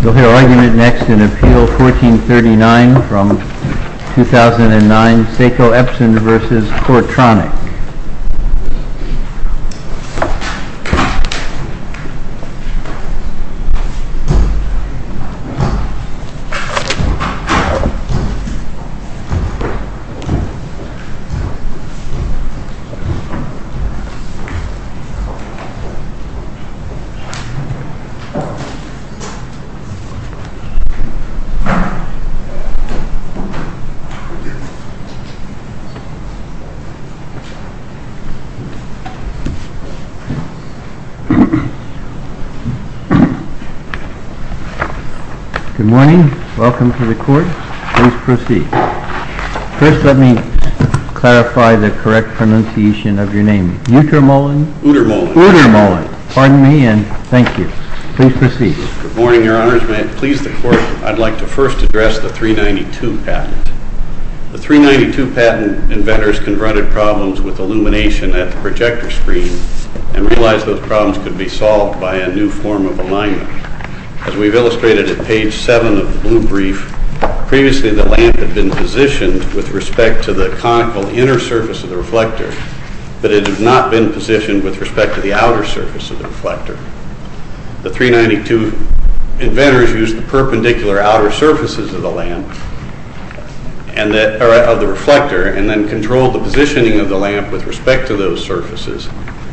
You'll hear argument next in Appeal 1439 from 2009, Seiko Epson v. Coretronic. Good morning. Welcome to the court. Please proceed. First, let me clarify the correct pronunciation of your name. Utermohlen. Utermohlen. Utermohlen. Pardon me, and thank you. Please proceed. Good morning, Your Honors. May it please the Court, I'd like to first address the 392 patent. The 392 patent inventors confronted problems with illumination at the projector screen and realized those problems could be solved by a new form of alignment. As we've illustrated at page 7 of the blue brief, previously the lamp had been positioned with respect to the conical inner surface of the reflector, but it had not been positioned with respect to the outer surface of the reflector. The 392 inventors used the perpendicular outer surfaces of the reflector and then controlled the positioning of the lamp with respect to those surfaces,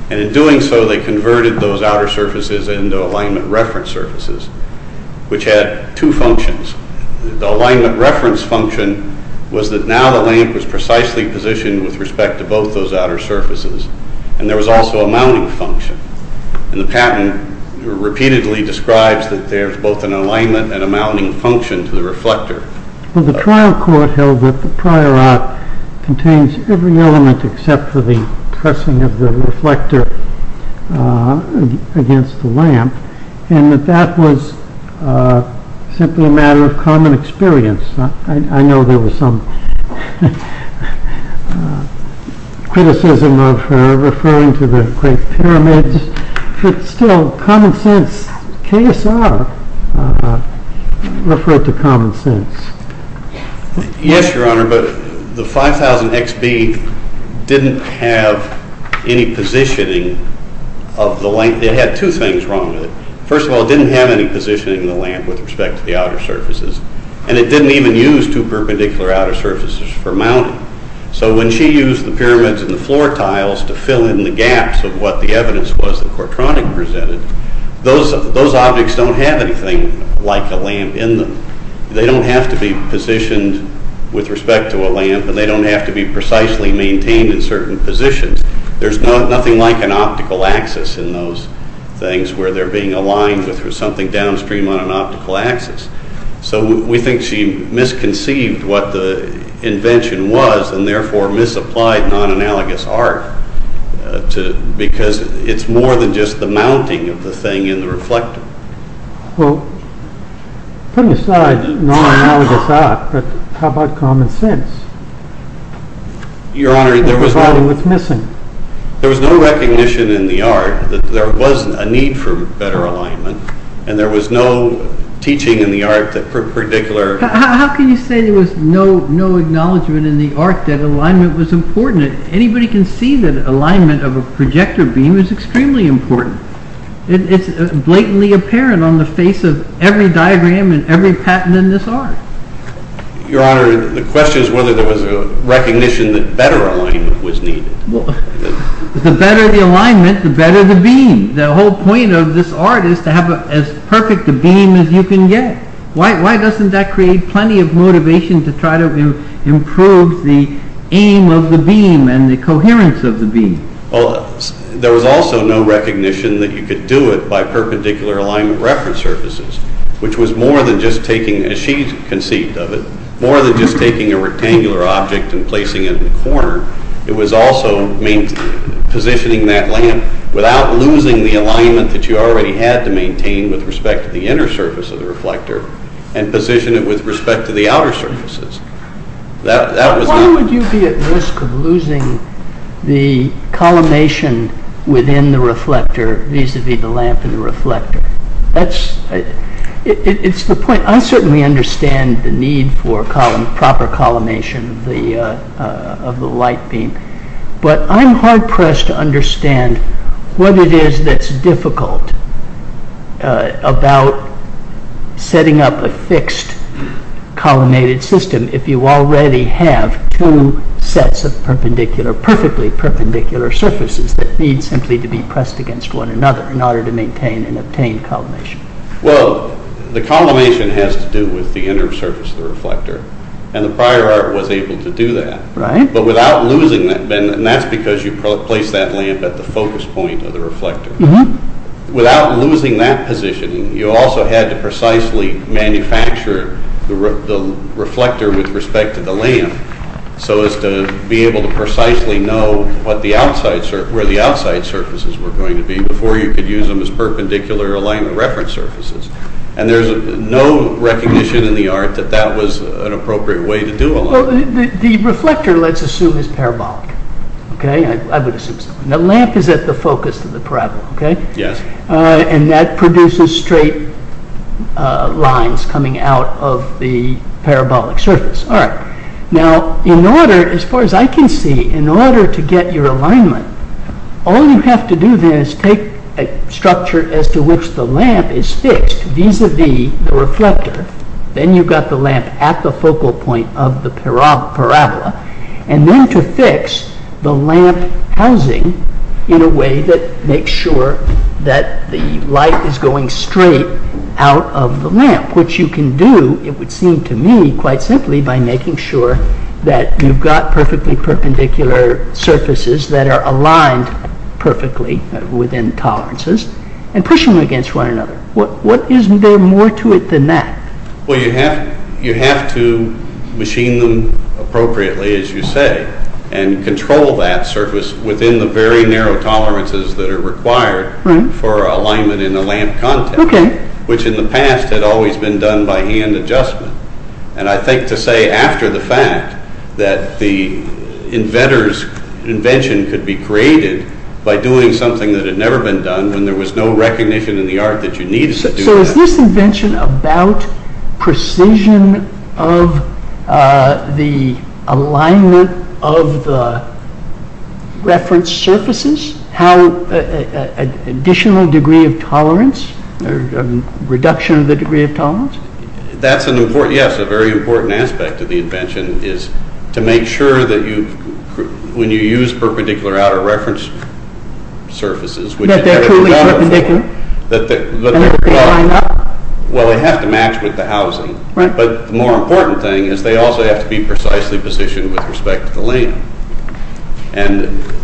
and in doing so they converted those outer surfaces into alignment reference surfaces, which had two functions. The alignment reference function was that now the lamp was precisely positioned with respect to both those outer surfaces, and there was also a mounting function, and the patent repeatedly describes that there's both an alignment and a mounting function to the reflector. The trial court held that the prior art contains every element except for the pressing of the reflector against the lamp, and that that was simply a matter of common experience. I know there was some criticism of referring to the Great Pyramids, but still, common sense, KSR referred to common sense. Yes, Your Honor, but the 5000XB didn't have any positioning of the lamp. It had two things wrong with it. First of all, it didn't have any positioning of the lamp with respect to the outer surfaces, and it didn't even use two perpendicular outer surfaces for mounting. So when she used the pyramids and the floor tiles to fill in the gaps of what the evidence was that Kortronik presented, those objects don't have anything like a lamp in them. They don't have to be positioned with respect to a lamp, and they don't have to be precisely maintained in certain positions. There's nothing like an optical axis in those things where they're being aligned with something downstream on an optical axis. So we think she misconceived what the invention was, and therefore misapplied non-analogous art, because it's more than just the mounting of the thing in the reflector. Well, put aside non-analogous art, but how about common sense? Your Honor, there was no recognition in the art that there was a need for better alignment, and there was no teaching in the art that particular… How can you say there was no acknowledgment in the art that alignment was important? Anybody can see that alignment of a projector beam is extremely important. It's blatantly apparent on the face of every diagram and every patent in this art. Your Honor, the question is whether there was a recognition that better alignment was needed. The better the alignment, the better the beam. The whole point of this art is to have as perfect a beam as you can get. Why doesn't that create plenty of motivation to try to improve the aim of the beam and the coherence of the beam? There was also no recognition that you could do it by perpendicular alignment reference surfaces, which was more than just taking, as she conceived of it, more than just taking a rectangular object and placing it in a corner. It was also positioning that lamp without losing the alignment that you already had to maintain with respect to the inner surface of the reflector and position it with respect to the outer surfaces. Why would you be at risk of losing the collimation within the reflector vis-à-vis the lamp and the reflector? I certainly understand the need for proper collimation of the light beam, but I'm hard-pressed to understand what it is that's difficult about setting up a fixed collimated system if you already have two sets of perfectly perpendicular surfaces that need simply to be pressed against one another in order to maintain and obtain collimation. Well, the collimation has to do with the inner surface of the reflector, and the prior art was able to do that. Right. But without losing that, and that's because you placed that lamp at the focus point of the reflector. Without losing that positioning, you also had to precisely manufacture the reflector with respect to the lamp so as to be able to precisely know where the outside surfaces were going to be before you could use them as perpendicular alignment reference surfaces. And there's no recognition in the art that that was an appropriate way to do alignment. The reflector, let's assume, is parabolic. I would assume so. The lamp is at the focus of the parabola, and that produces straight lines coming out of the parabolic surface. All right. Now, in order, as far as I can see, in order to get your alignment, all you have to do then is take a structure as to which the lamp is fixed vis-a-vis the reflector. Then you've got the lamp at the focal point of the parabola, and then to fix the lamp housing in a way that makes sure that the light is going straight out of the lamp, which you can do, it would seem to me, quite simply by making sure that you've got perfectly perpendicular surfaces that are aligned perfectly within tolerances and push them against one another. What is there more to it than that? Well, you have to machine them appropriately, as you say, and control that surface within the very narrow tolerances that are required for alignment in the lamp contact, which in the past had always been done by hand adjustment. And I think to say after the fact that the inventor's invention could be created by doing something that had never been done when there was no recognition in the art that you needed to do that. So is this invention about precision of the alignment of the reference surfaces, additional degree of tolerance, reduction of the degree of tolerance? That's an important, yes, a very important aspect of the invention is to make sure that when you use perpendicular outer reference surfaces, that they're totally perpendicular, and that they line up. Well, they have to match with the housing. But the more important thing is they also have to be precisely positioned with respect to the lamp. And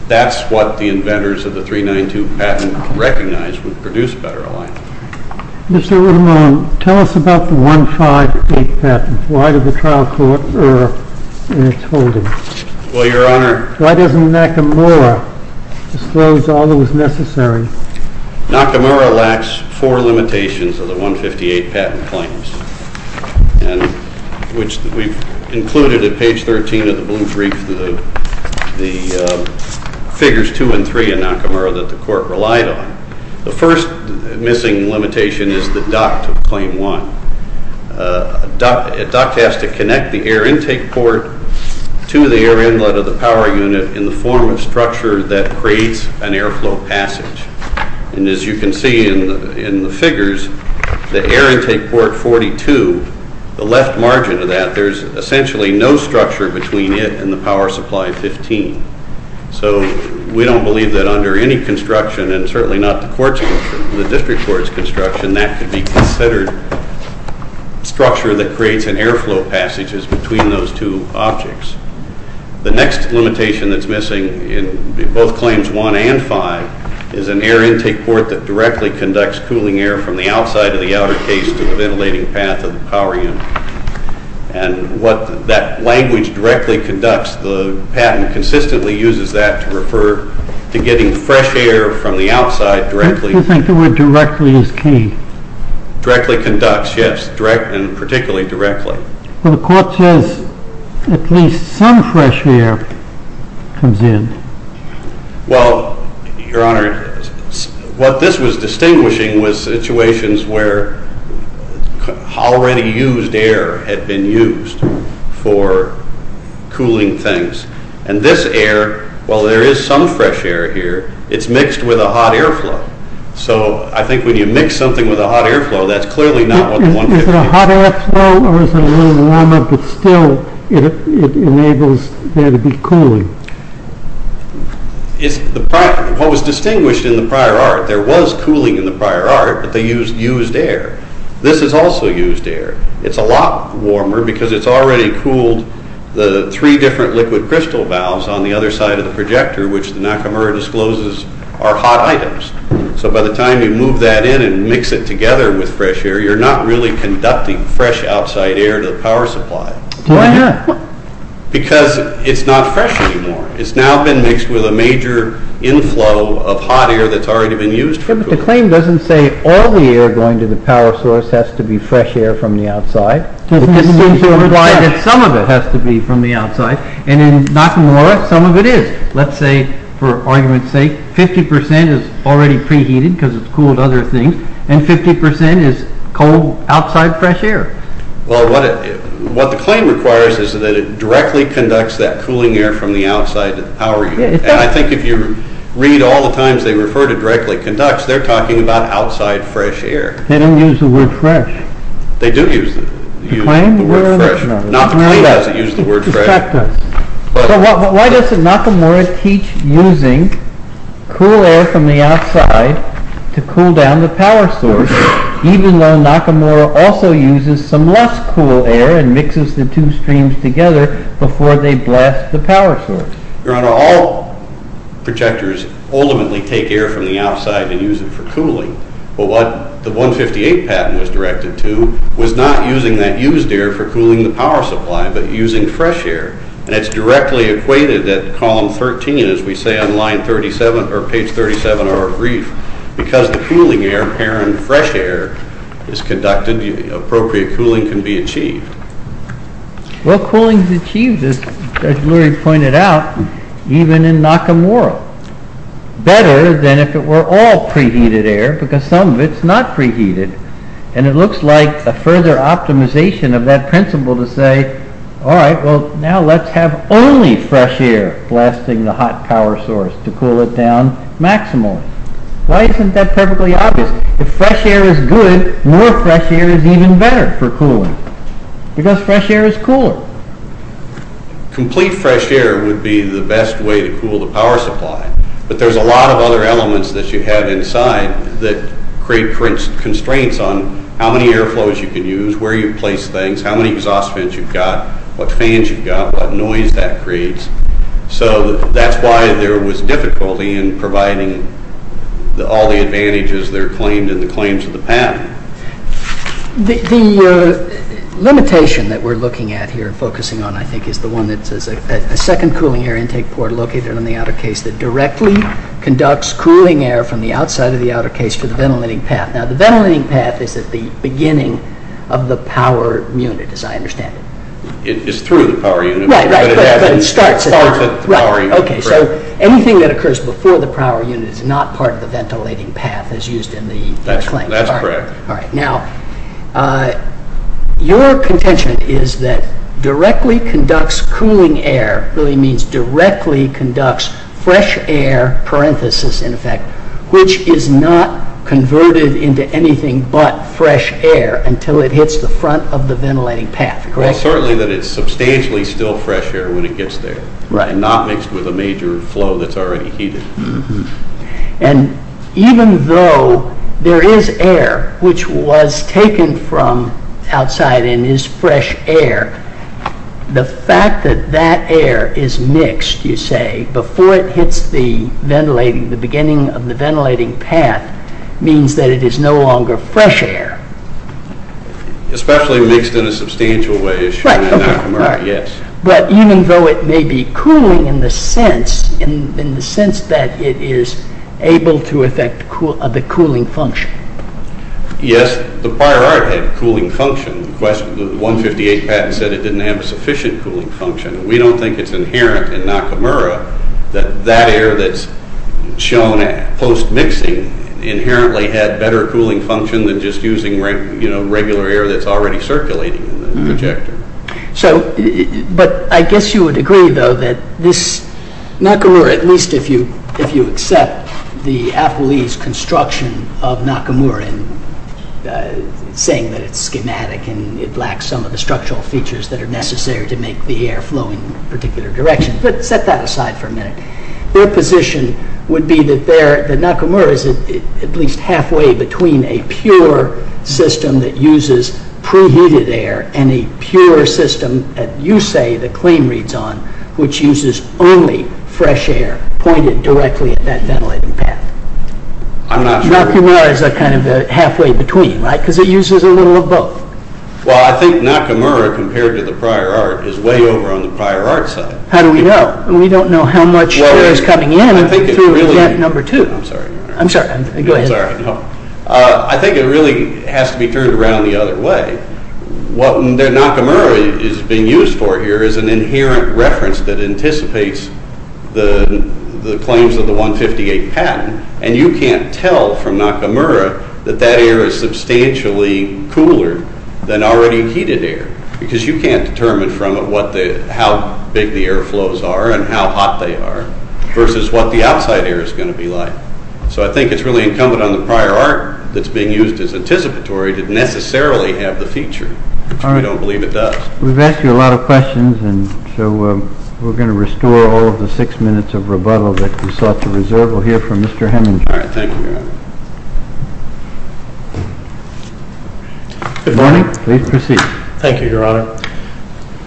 that's what the inventors of the 392 patent recognized would produce better alignment. Mr. Ramone, tell us about the 158 patent. Why did the trial court err in its holding? Well, Your Honor... Why doesn't Nakamura disclose all that was necessary? Nakamura lacks four limitations of the 158 patent claims, which we've included at page 13 of the Blue Brief, the figures 2 and 3 in Nakamura that the court relied on. The first missing limitation is the duct of claim 1. A duct has to connect the air intake port to the air inlet of the power unit in the form of structure that creates an airflow passage. And as you can see in the figures, the air intake port 42, the left margin of that, there's essentially no structure between it and the power supply 15. So we don't believe that under any construction, and certainly not the district court's construction, that could be considered structure that creates an airflow passage between those two objects. The next limitation that's missing in both claims 1 and 5 is an air intake port that directly conducts cooling air from the outside of the outer case to the ventilating path of the power unit. And what that language directly conducts, the patent consistently uses that to refer to getting fresh air from the outside directly... You think the word directly is key? Directly conducts, yes, and particularly directly. Well, the court says at least some fresh air comes in. Well, Your Honor, what this was distinguishing was situations where already used air had been used for cooling things. And this air, while there is some fresh air here, it's mixed with a hot airflow. So I think when you mix something with a hot airflow, that's clearly not what the 150... Is it a hot airflow or is it a little warmer, but still it enables there to be cooling? What was distinguished in the prior art, there was cooling in the prior art, but they used used air. This is also used air. It's a lot warmer because it's already cooled the three different liquid crystal valves on the other side of the projector, which the Nakamura discloses are hot items. So by the time you move that in and mix it together with fresh air, you're not really conducting fresh outside air to the power supply. Why not? Because it's not fresh anymore. It's now been mixed with a major inflow of hot air that's already been used for cooling. But the claim doesn't say all the air going to the power source has to be fresh air from the outside. It just seems to imply that some of it has to be from the outside, and in Nakamura, some of it is. Let's say, for argument's sake, 50% is already preheated because it's cooled other things, and 50% is cold outside fresh air. Well, what the claim requires is that it directly conducts that cooling air from the outside to the power unit. And I think if you read all the times they refer to directly conducts, they're talking about outside fresh air. They don't use the word fresh. They do use the word fresh. Nakamura doesn't use the word fresh. So why does Nakamura teach using cool air from the outside to cool down the power source, even though Nakamura also uses some less cool air and mixes the two streams together before they blast the power source? All projectors ultimately take air from the outside and use it for cooling. But what the 158 patent was directed to was not using that used air for cooling the power supply but using fresh air. And it's directly equated at column 13, as we say on page 37 of our brief, because the cooling air, apparent fresh air, is conducted, the appropriate cooling can be achieved. Well, cooling is achieved, as Judge Lurie pointed out, even in Nakamura. Better than if it were all preheated air because some of it's not preheated. And it looks like a further optimization of that principle to say, all right, well, now let's have only fresh air blasting the hot power source to cool it down maximally. Why isn't that perfectly obvious? If fresh air is good, more fresh air is even better for cooling because fresh air is cooler. Complete fresh air would be the best way to cool the power supply. But there's a lot of other elements that you have inside that create constraints on how many air flows you can use, where you place things, how many exhaust vents you've got, what fans you've got, what noise that creates. So that's why there was difficulty in providing all the advantages that are claimed in the claims of the patent. The limitation that we're looking at here and focusing on, I think, is the one that says a second cooling air intake port located on the outer case that directly conducts cooling air from the outside of the outer case to the ventilating path. Now, the ventilating path is at the beginning of the power unit, as I understand it. It's through the power unit, but it starts at the power unit. Okay, so anything that occurs before the power unit is not part of the ventilating path as used in the claim. That's correct. All right. Now, your contention is that directly conducts cooling air really means directly conducts fresh air, parenthesis in effect, which is not converted into anything but fresh air until it hits the front of the ventilating path, correct? Well, certainly that it's substantially still fresh air when it gets there and not mixed with a major flow that's already heated. And even though there is air which was taken from outside and is fresh air, the fact that that air is mixed, you say, before it hits the ventilating, the beginning of the ventilating path, means that it is no longer fresh air. Especially mixed in a substantial way as shown in Nakamura, yes. But even though it may be cooling in the sense that it is able to affect the cooling function. Yes, the prior art had cooling function. The 158 patent said it didn't have a sufficient cooling function. We don't think it's inherent in Nakamura that that air that's shown post-mixing inherently had better cooling function than just using regular air that's already circulating in the projector. But I guess you would agree, though, that this Nakamura, at least if you accept the Appleese construction of Nakamura and saying that it's schematic and it lacks some of the structural features that are necessary to make the air flow in a particular direction. But set that aside for a minute. Your position would be that Nakamura is at least halfway between a pure system that uses preheated air and a pure system, that you say the claim reads on, which uses only fresh air pointed directly at that ventilating path. Nakamura is kind of halfway between, right? Because it uses a little of both. Well, I think Nakamura compared to the prior art is way over on the prior art side. How do we know? We don't know how much air is coming in through vent number two. I'm sorry. Go ahead. I think it really has to be turned around the other way. What Nakamura is being used for here is an inherent reference that anticipates the claims of the 158 patent. And you can't tell from Nakamura that that air is substantially cooler than already heated air. Because you can't determine from it how big the air flows are and how hot they are versus what the outside air is going to be like. So I think it's really incumbent on the prior art that's being used as anticipatory to necessarily have the feature. We don't believe it does. We've asked you a lot of questions, and so we're going to restore all of the six minutes of rebuttal that we sought to reserve. We'll hear from Mr. Heminger. All right. Thank you, Your Honor. Good morning. Please proceed. Thank you, Your Honor.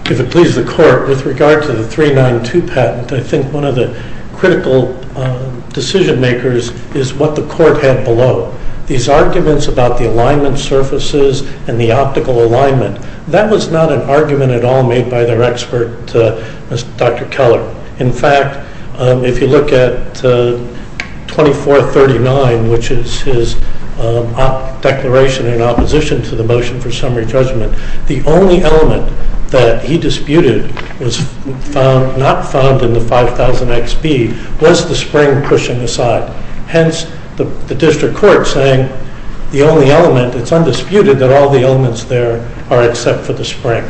If it pleases the Court, with regard to the 392 patent, I think one of the critical decision makers is what the Court had below. These arguments about the alignment surfaces and the optical alignment, that was not an argument at all made by their expert, Dr. Keller. In fact, if you look at 2439, which is his declaration in opposition to the motion for summary judgment, the only element that he disputed was not found in the 5000XB was the spring pushing aside. Hence, the district court saying the only element, it's undisputed, that all the elements there are except for the spring.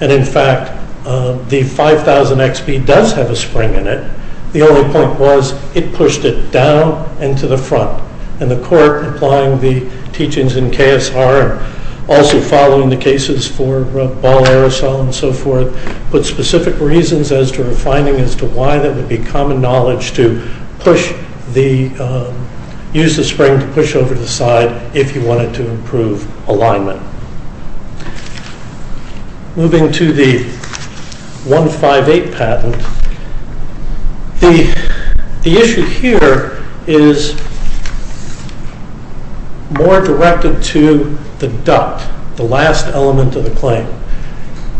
And in fact, the 5000XB does have a spring in it. The only point was it pushed it down and to the front. And the Court, applying the teachings in KSR, also following the cases for ball aerosol and so forth, put specific reasons as to refining as to why that would be common knowledge to use the spring to push over to the side if you wanted to improve alignment. Moving to the 158 patent, the issue here is more directed to the duct, the last element of the claim.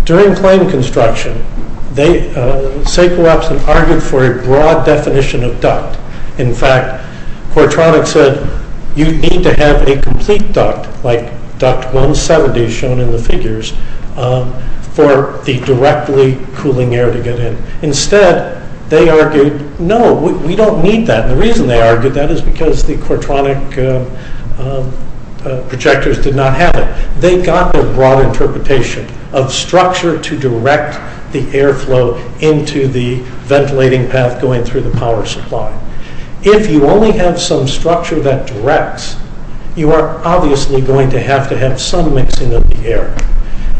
During claim construction, they argued for a broad definition of duct. In fact, Quartronics said you need to have a complete duct like duct 170 shown in the figures for the directly cooling air to get in. Instead, they argued, no, we don't need that. The reason they argued that is because the Quartronics projectors did not have it. They got the broad interpretation of structure to direct the airflow into the ventilating path going through the power supply. If you only have some structure that directs, you are obviously going to have to have some mixing of the air.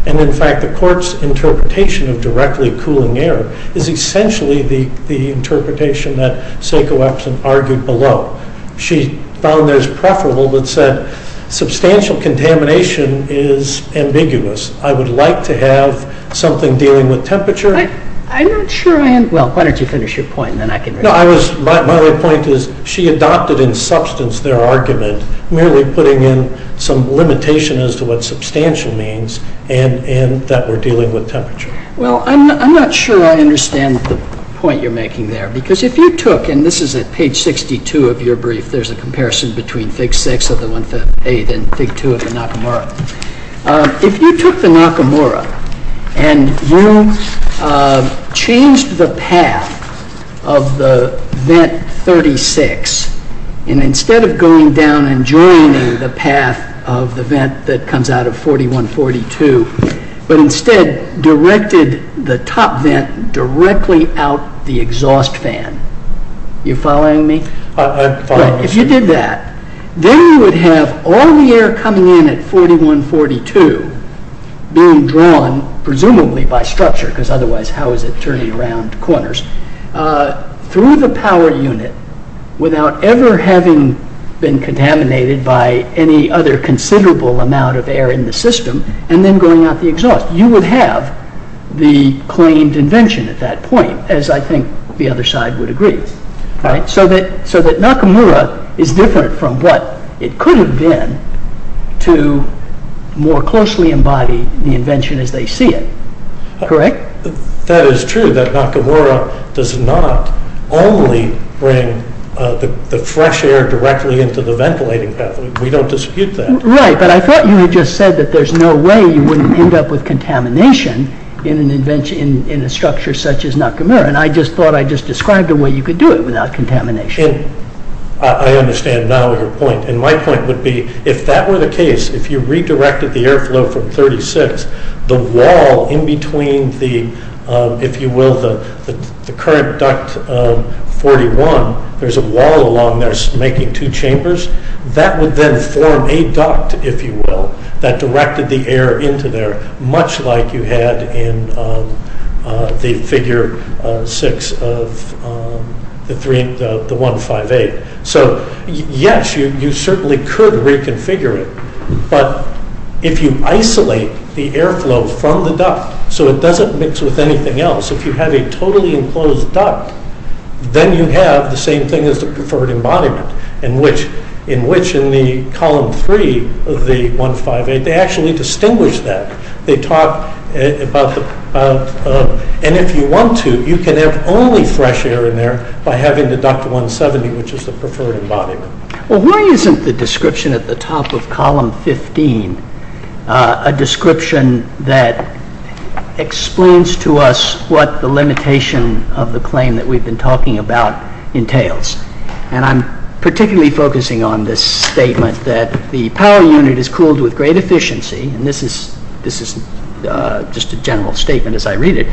And in fact, the Court's interpretation of directly cooling air is essentially the interpretation that Seiko Epson argued below. She found theirs preferable but said substantial contamination is ambiguous. I would like to have something dealing with temperature. I'm not sure I am. Well, why don't you finish your point and then I can read it. My other point is she adopted in substance their argument. Merely putting in some limitation as to what substantial means and that we're dealing with temperature. Well, I'm not sure I understand the point you're making there because if you took, and this is at page 62 of your brief, there's a comparison between Fig. 6 of the 158 and Fig. 2 of the Nakamura. If you took the Nakamura and you changed the path of the vent 36 and instead of going down and joining the path of the vent that comes out of 4142, but instead directed the top vent directly out the exhaust fan. Are you following me? I'm following you. If you did that, then you would have all the air coming in at 4142 being drawn presumably by structure because otherwise how is it turning around corners through the power unit without ever having been contaminated by any other considerable amount of air in the system and then going out the exhaust. You would have the claimed invention at that point as I think the other side would agree. So that Nakamura is different from what it could have been to more closely embody the invention as they see it. Correct? That is true that Nakamura does not only bring the fresh air directly into the ventilating pathway. We don't dispute that. Right, but I thought you had just said that there's no way you wouldn't end up with contamination in a structure such as Nakamura and I just thought I just described a way you could do it without contamination. I understand now your point and my point would be if that were the case, if you redirected the airflow from 36, the wall in between the, if you will, the current duct 41, there's a wall along there making two chambers. That would then form a duct, if you will, that directed the air into there much like you had in the figure six of the 158. So yes, you certainly could reconfigure it, but if you isolate the airflow from the duct so it doesn't mix with anything else, if you have a totally enclosed duct, then you have the same thing as the preferred embodiment in which in the column three of the 158, they actually distinguish that. They talk about, and if you want to, you can have only fresh air in there by having the duct 170, which is the preferred embodiment. Well, why isn't the description at the top of column 15 a description that explains to us what the limitation of the claim that we've been talking about entails? And I'm particularly focusing on this statement that the power unit is cooled with great efficiency, and this is just a general statement as I read it,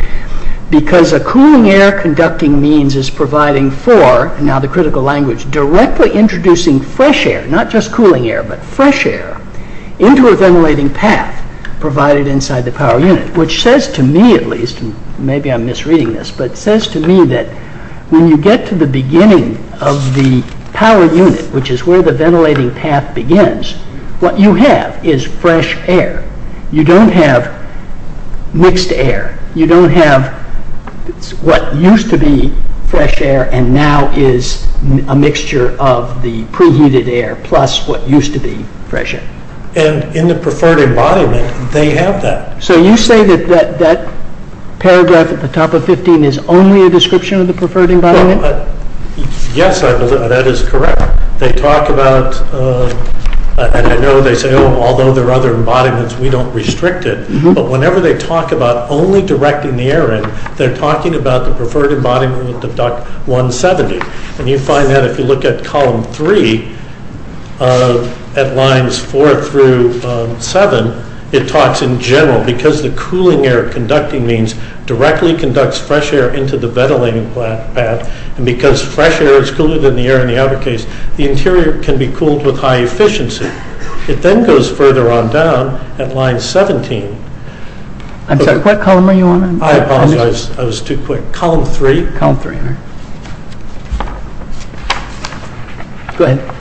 because a cooling air conducting means is providing for, now the critical language, directly introducing fresh air, not just cooling air, but fresh air, into a ventilating path provided inside the power unit, which says to me at least, and maybe I'm misreading this, but it says to me that when you get to the beginning of the power unit, which is where the ventilating path begins, what you have is fresh air. You don't have mixed air. You don't have what used to be fresh air and now is a mixture of the preheated air plus what used to be fresh air. And in the preferred embodiment, they have that. So you say that that paragraph at the top of 15 is only a description of the preferred embodiment? Yes, that is correct. They talk about, and I know they say, although there are other embodiments, we don't restrict it, but whenever they talk about only directing the air in, they're talking about the preferred embodiment of duct 170, and you find that if you look at column 3, at lines 4 through 7, it talks in general, because the cooling air conducting means directly conducts fresh air into the ventilating path, and because fresh air is cooler than the air in the outer case, the interior can be cooled with high efficiency. It then goes further on down at line 17. I'm sorry, what column are you on? I apologize, I was too quick. Column 3. Go ahead.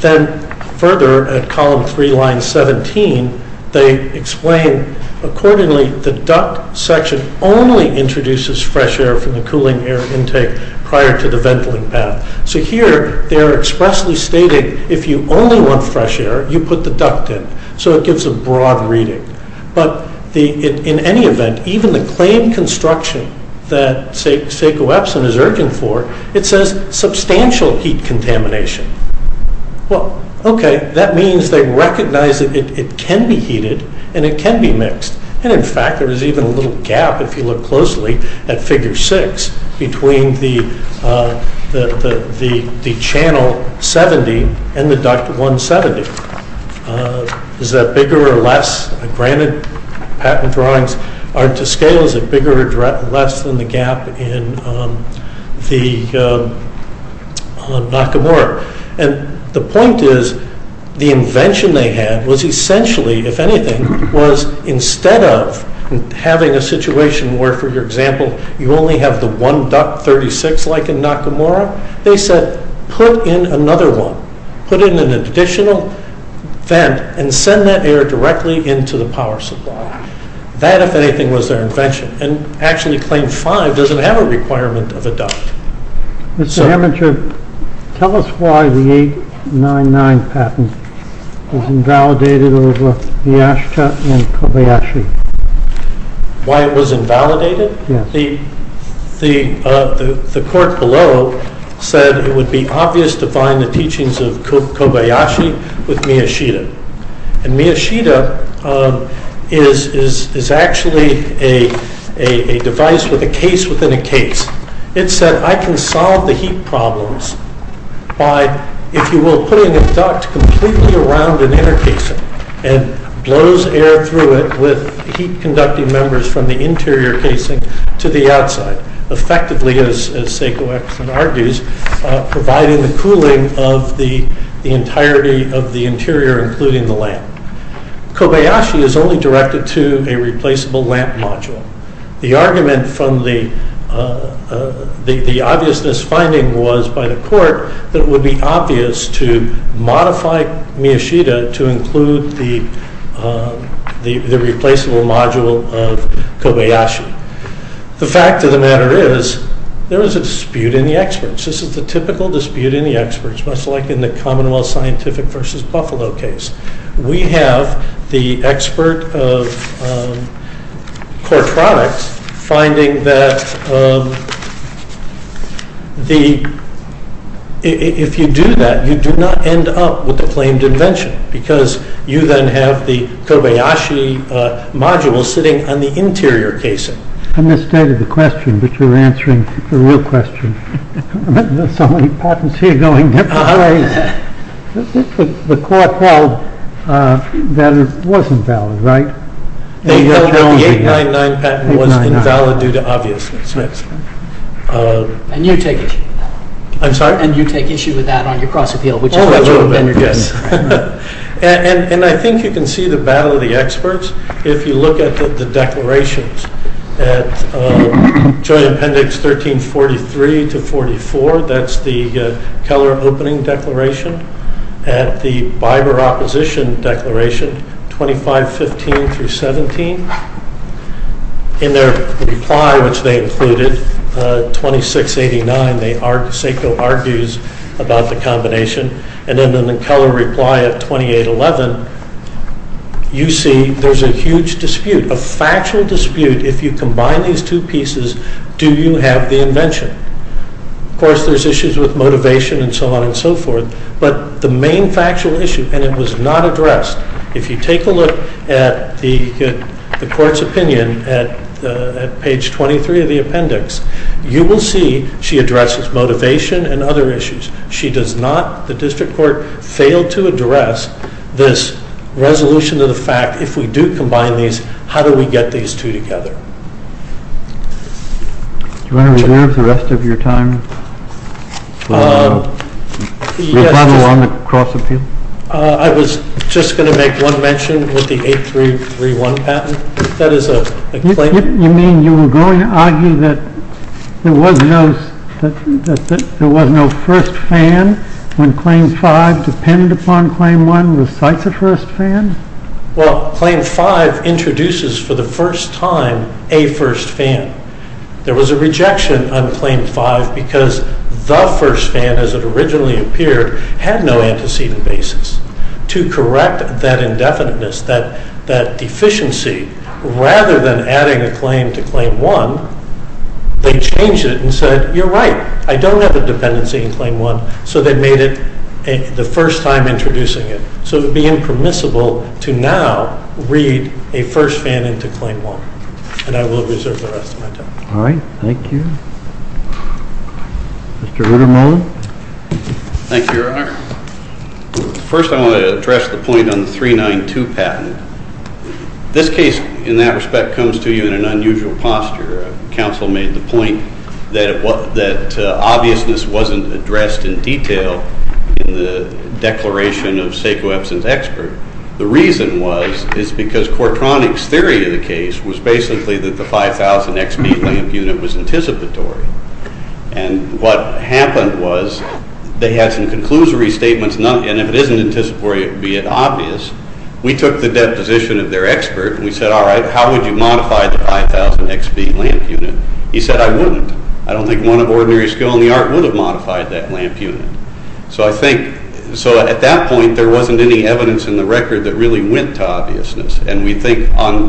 Then further at column 3, line 17, they explain, accordingly the duct section only introduces fresh air from the cooling air intake prior to the venting path. So here they're expressly stating if you only want fresh air, you put the duct in, so it gives a broad reading. But in any event, even the claim construction that SACOEPSIN is urging for, it says substantial heat contamination. Well, okay, that means they recognize that it can be heated, and it can be mixed, and in fact there is even a little gap, if you look closely, at figure 6 between the channel 70 and the duct 170. Is that bigger or less? Granted, patent drawings are to scale, is it bigger or less than the gap in Nakamura? And the point is the invention they had was essentially, if anything, was instead of having a situation where, for example, you only have the one duct 36 like in Nakamura, they said put in another one, put in an additional vent, and send that air directly into the power supply. That, if anything, was their invention, and actually claim 5 doesn't have a requirement of a duct. Mr. Heminger, tell us why the 899 patent was invalidated over Miyashita and Kobayashi. Why it was invalidated? The court below said it would be obvious to find the teachings of Kobayashi with Miyashita, and Miyashita is actually a device with a case within a case. It said I can solve the heat problems by, if you will, putting a duct completely around an inner casing, and blows air through it with heat conducting members from the interior casing to the outside. Effectively, as Seiko Epstein argues, providing the cooling of the entirety of the interior, including the lamp. Kobayashi is only directed to a replaceable lamp module. The argument from the obviousness finding was by the court that it would be obvious to modify Miyashita to include the replaceable module of Kobayashi. The fact of the matter is there is a dispute in the experts. This is the typical dispute in the experts, much like in the Commonwealth Scientific versus Buffalo case. We have the expert of core products finding that if you do that, you do not end up with the claimed invention, because you then have the Kobayashi module sitting on the interior casing. I misstated the question, but you're answering the real question. There are so many patents here going different ways. The court held that it wasn't valid, right? The 899 patent was invalid due to obviousness. And you take issue with that on your cross-appeal? A little bit, yes. And I think you can see the battle of the experts if you look at the declarations at joint appendix 1343 to 44. That's the Keller opening declaration. At the Biber opposition declaration 2515 through 17, in their reply, which they included, 2689, Seko argues about the combination. And then in the Keller reply at 2811, you see there's a huge dispute, a factual dispute. If you combine these two pieces, do you have the invention? Of course, there's issues with motivation and so on and so forth. But the main factual issue, and it was not addressed, if you take a look at the court's opinion at page 23 of the appendix, you will see she addresses motivation and other issues. She does not, the district court, fail to address this resolution of the fact, if we do combine these, how do we get these two together? Do you want to reserve the rest of your time? We'll follow on the cross-appeal. I was just going to make one mention with the 8331 patent. That is a claim. You mean you were going to argue that there was no first fan when Claim 5 depended upon Claim 1? The site's a first fan? Well, Claim 5 introduces for the first time a first fan. There was a rejection on Claim 5 because the first fan, as it originally appeared, had no antecedent basis. To correct that indefiniteness, that deficiency, rather than adding a claim to Claim 1, they changed it and said, you're right, I don't have a dependency in Claim 1, so they made it the first time introducing it. So it would be impermissible to now read a first fan into Claim 1. And I will reserve the rest of my time. All right. Thank you. Mr. Ruderman? Thank you, Your Honor. First, I want to address the point on the 392 patent. This case, in that respect, comes to you in an unusual posture. Counsel made the point that obviousness wasn't addressed in detail in the declaration of Sekou Epson's expert. The reason was it's because Kortronik's theory of the case was basically that the 5,000xB lamp unit was anticipatory. And what happened was they had some conclusory statements, and if it isn't anticipatory, it would be an obvious. We took the deposition of their expert, and we said, all right, how would you modify the 5,000xB lamp unit? He said, I wouldn't. I don't think one of ordinary skill in the art would have modified that lamp unit. So I think at that point there wasn't any evidence in the record that really went to obviousness. And we think on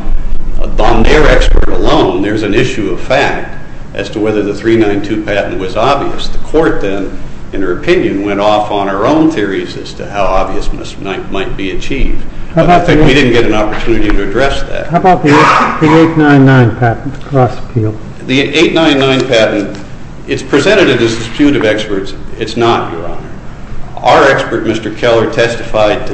their expert alone, there's an issue of fact as to whether the 392 patent was obvious. The court then, in her opinion, went off on her own theories as to how obviousness might be achieved. But I think we didn't get an opportunity to address that. How about the 899 patent? The 899 patent, it's presented as a dispute of experts. It's not, Your Honor. Our expert, Mr. Keller, testified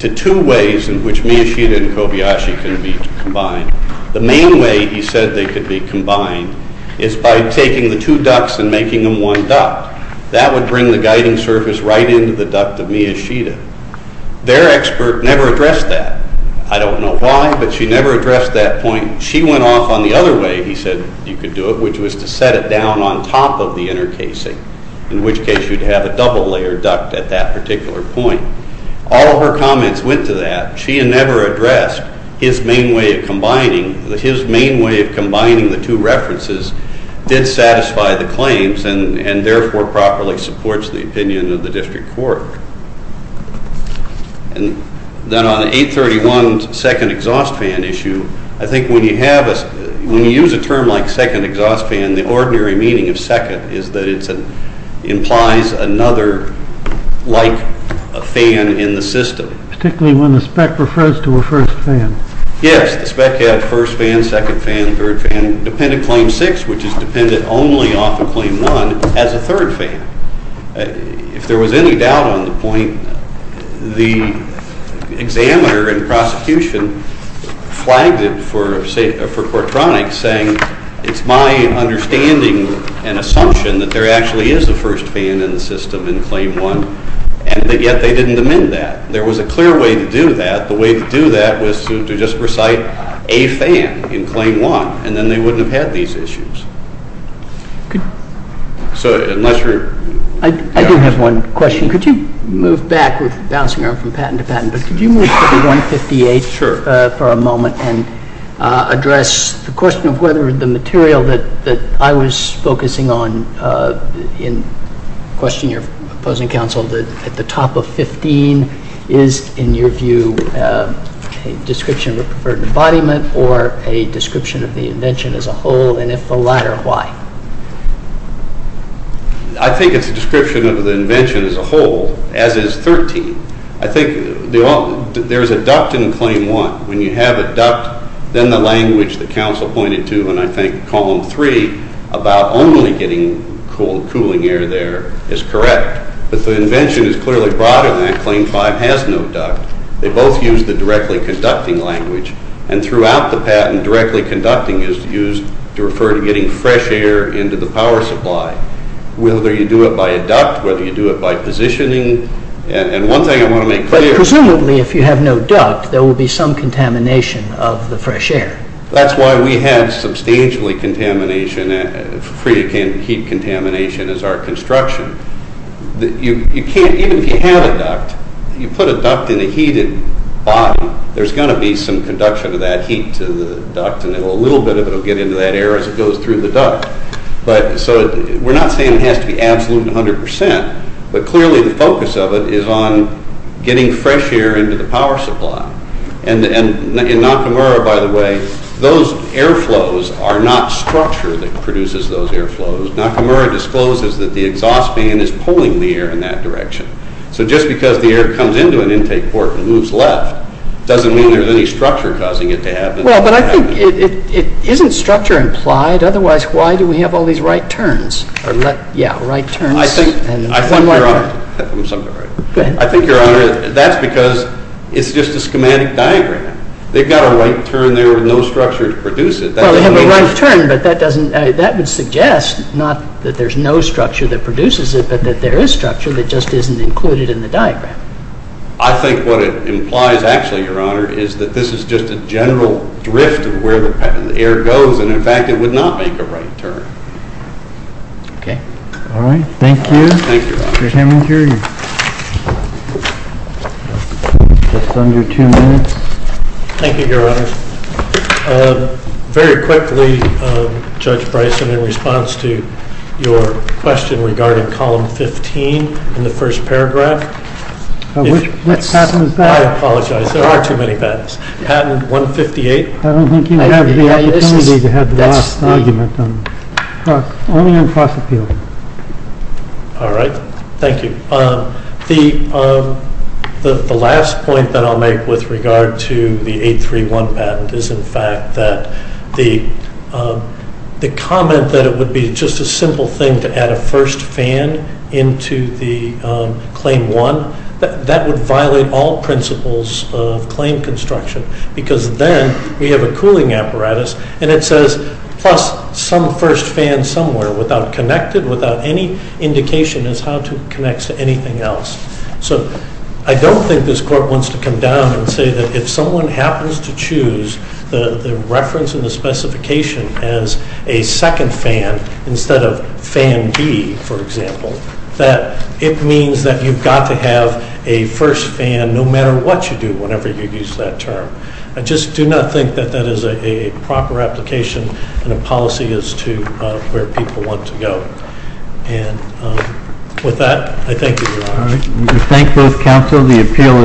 to two ways in which Miyashita and Kobayashi can be combined. The main way he said they could be combined is by taking the two ducts and making them one duct. That would bring the guiding surface right into the duct of Miyashita. Their expert never addressed that. I don't know why, but she never addressed that point. She went off on the other way he said you could do it, which was to set it down on top of the inner casing, in which case you'd have a double-layered duct at that particular point. All of her comments went to that. She never addressed his main way of combining the two references did satisfy the claims and therefore properly supports the opinion of the district court. Then on 831's second exhaust fan issue, I think when you use a term like second exhaust fan, the ordinary meaning of second is that it implies another like fan in the system. Particularly when the spec refers to a first fan. Yes, the spec had first fan, second fan, third fan, dependent claim six, which is dependent only off of claim one, as a third fan. If there was any doubt on the point, the examiner in prosecution flagged it for Quartronics, saying it's my understanding and assumption that there actually is a first fan in the system in claim one, and yet they didn't amend that. There was a clear way to do that. The way to do that was to just recite a fan in claim one, and then they wouldn't have had these issues. I do have one question. Could you move back, bouncing around from patent to patent, but could you move to 158 for a moment and address the question of whether the material that I was focusing on in questioning your opposing counsel at the top of 15 is, in your view, a description of a preferred embodiment or a description of the invention as a whole, and if the latter, why? I think it's a description of the invention as a whole, as is 13. I think there's a duct in claim one. When you have a duct, then the language the counsel pointed to in I think column three about only getting cooling air there is correct, but the invention is clearly broader than that. Claim five has no duct. They both use the directly conducting language, and throughout the patent, directly conducting is used to refer to getting fresh air into the power supply, whether you do it by a duct, whether you do it by positioning. One thing I want to make clear— Presumably, if you have no duct, there will be some contamination of the fresh air. That's why we have substantially contamination, free heat contamination as our construction. Even if you have a duct, you put a duct in a heated body, there's going to be some conduction of that heat to the duct, and a little bit of it will get into that air as it goes through the duct. We're not saying it has to be absolute 100 percent, but clearly the focus of it is on getting fresh air into the power supply. In Nakamura, by the way, those air flows are not structure that produces those air flows. Nakamura discloses that the exhaust fan is pulling the air in that direction. Just because the air comes into an intake port and moves left doesn't mean there's any structure causing it to happen. Well, but I think it isn't structure implied. Otherwise, why do we have all these right turns? I think, Your Honor, that's because it's just a schematic diagram. They've got a right turn there with no structure to produce it. Well, they have a right turn, but that would suggest not that there's no structure that produces it, but that there is structure that just isn't included in the diagram. I think what it implies, actually, Your Honor, is that this is just a general drift of where the air goes, and, in fact, it would not make a right turn. Okay. All right. Thank you. Thank you, Your Honor. Mr. Heminger, you're just under two minutes. Thank you, Your Honor. Very quickly, Judge Bryson, in response to your question regarding Column 15 in the first paragraph. What pattern is that? I apologize. There are too many patterns. Patent 158? I don't think you have the opportunity to have the last argument. Only on fossil fuel. All right. Thank you. The last point that I'll make with regard to the 831 patent is, in fact, that the comment that it would be just a simple thing to add a first fan into the Claim 1, that would violate all principles of claim construction because then we have a cooling apparatus, and it says, plus some first fan somewhere without connected, without any indication as how it connects to anything else. So I don't think this Court wants to come down and say that if someone happens to choose the reference in the specification as a second fan instead of fan B, for example, that it means that you've got to have a first fan no matter what you do, whenever you use that term. I just do not think that that is a proper application and a policy as to where people want to go. And with that, I thank you, Your Honor. Thank you, counsel. The appeal is submitted.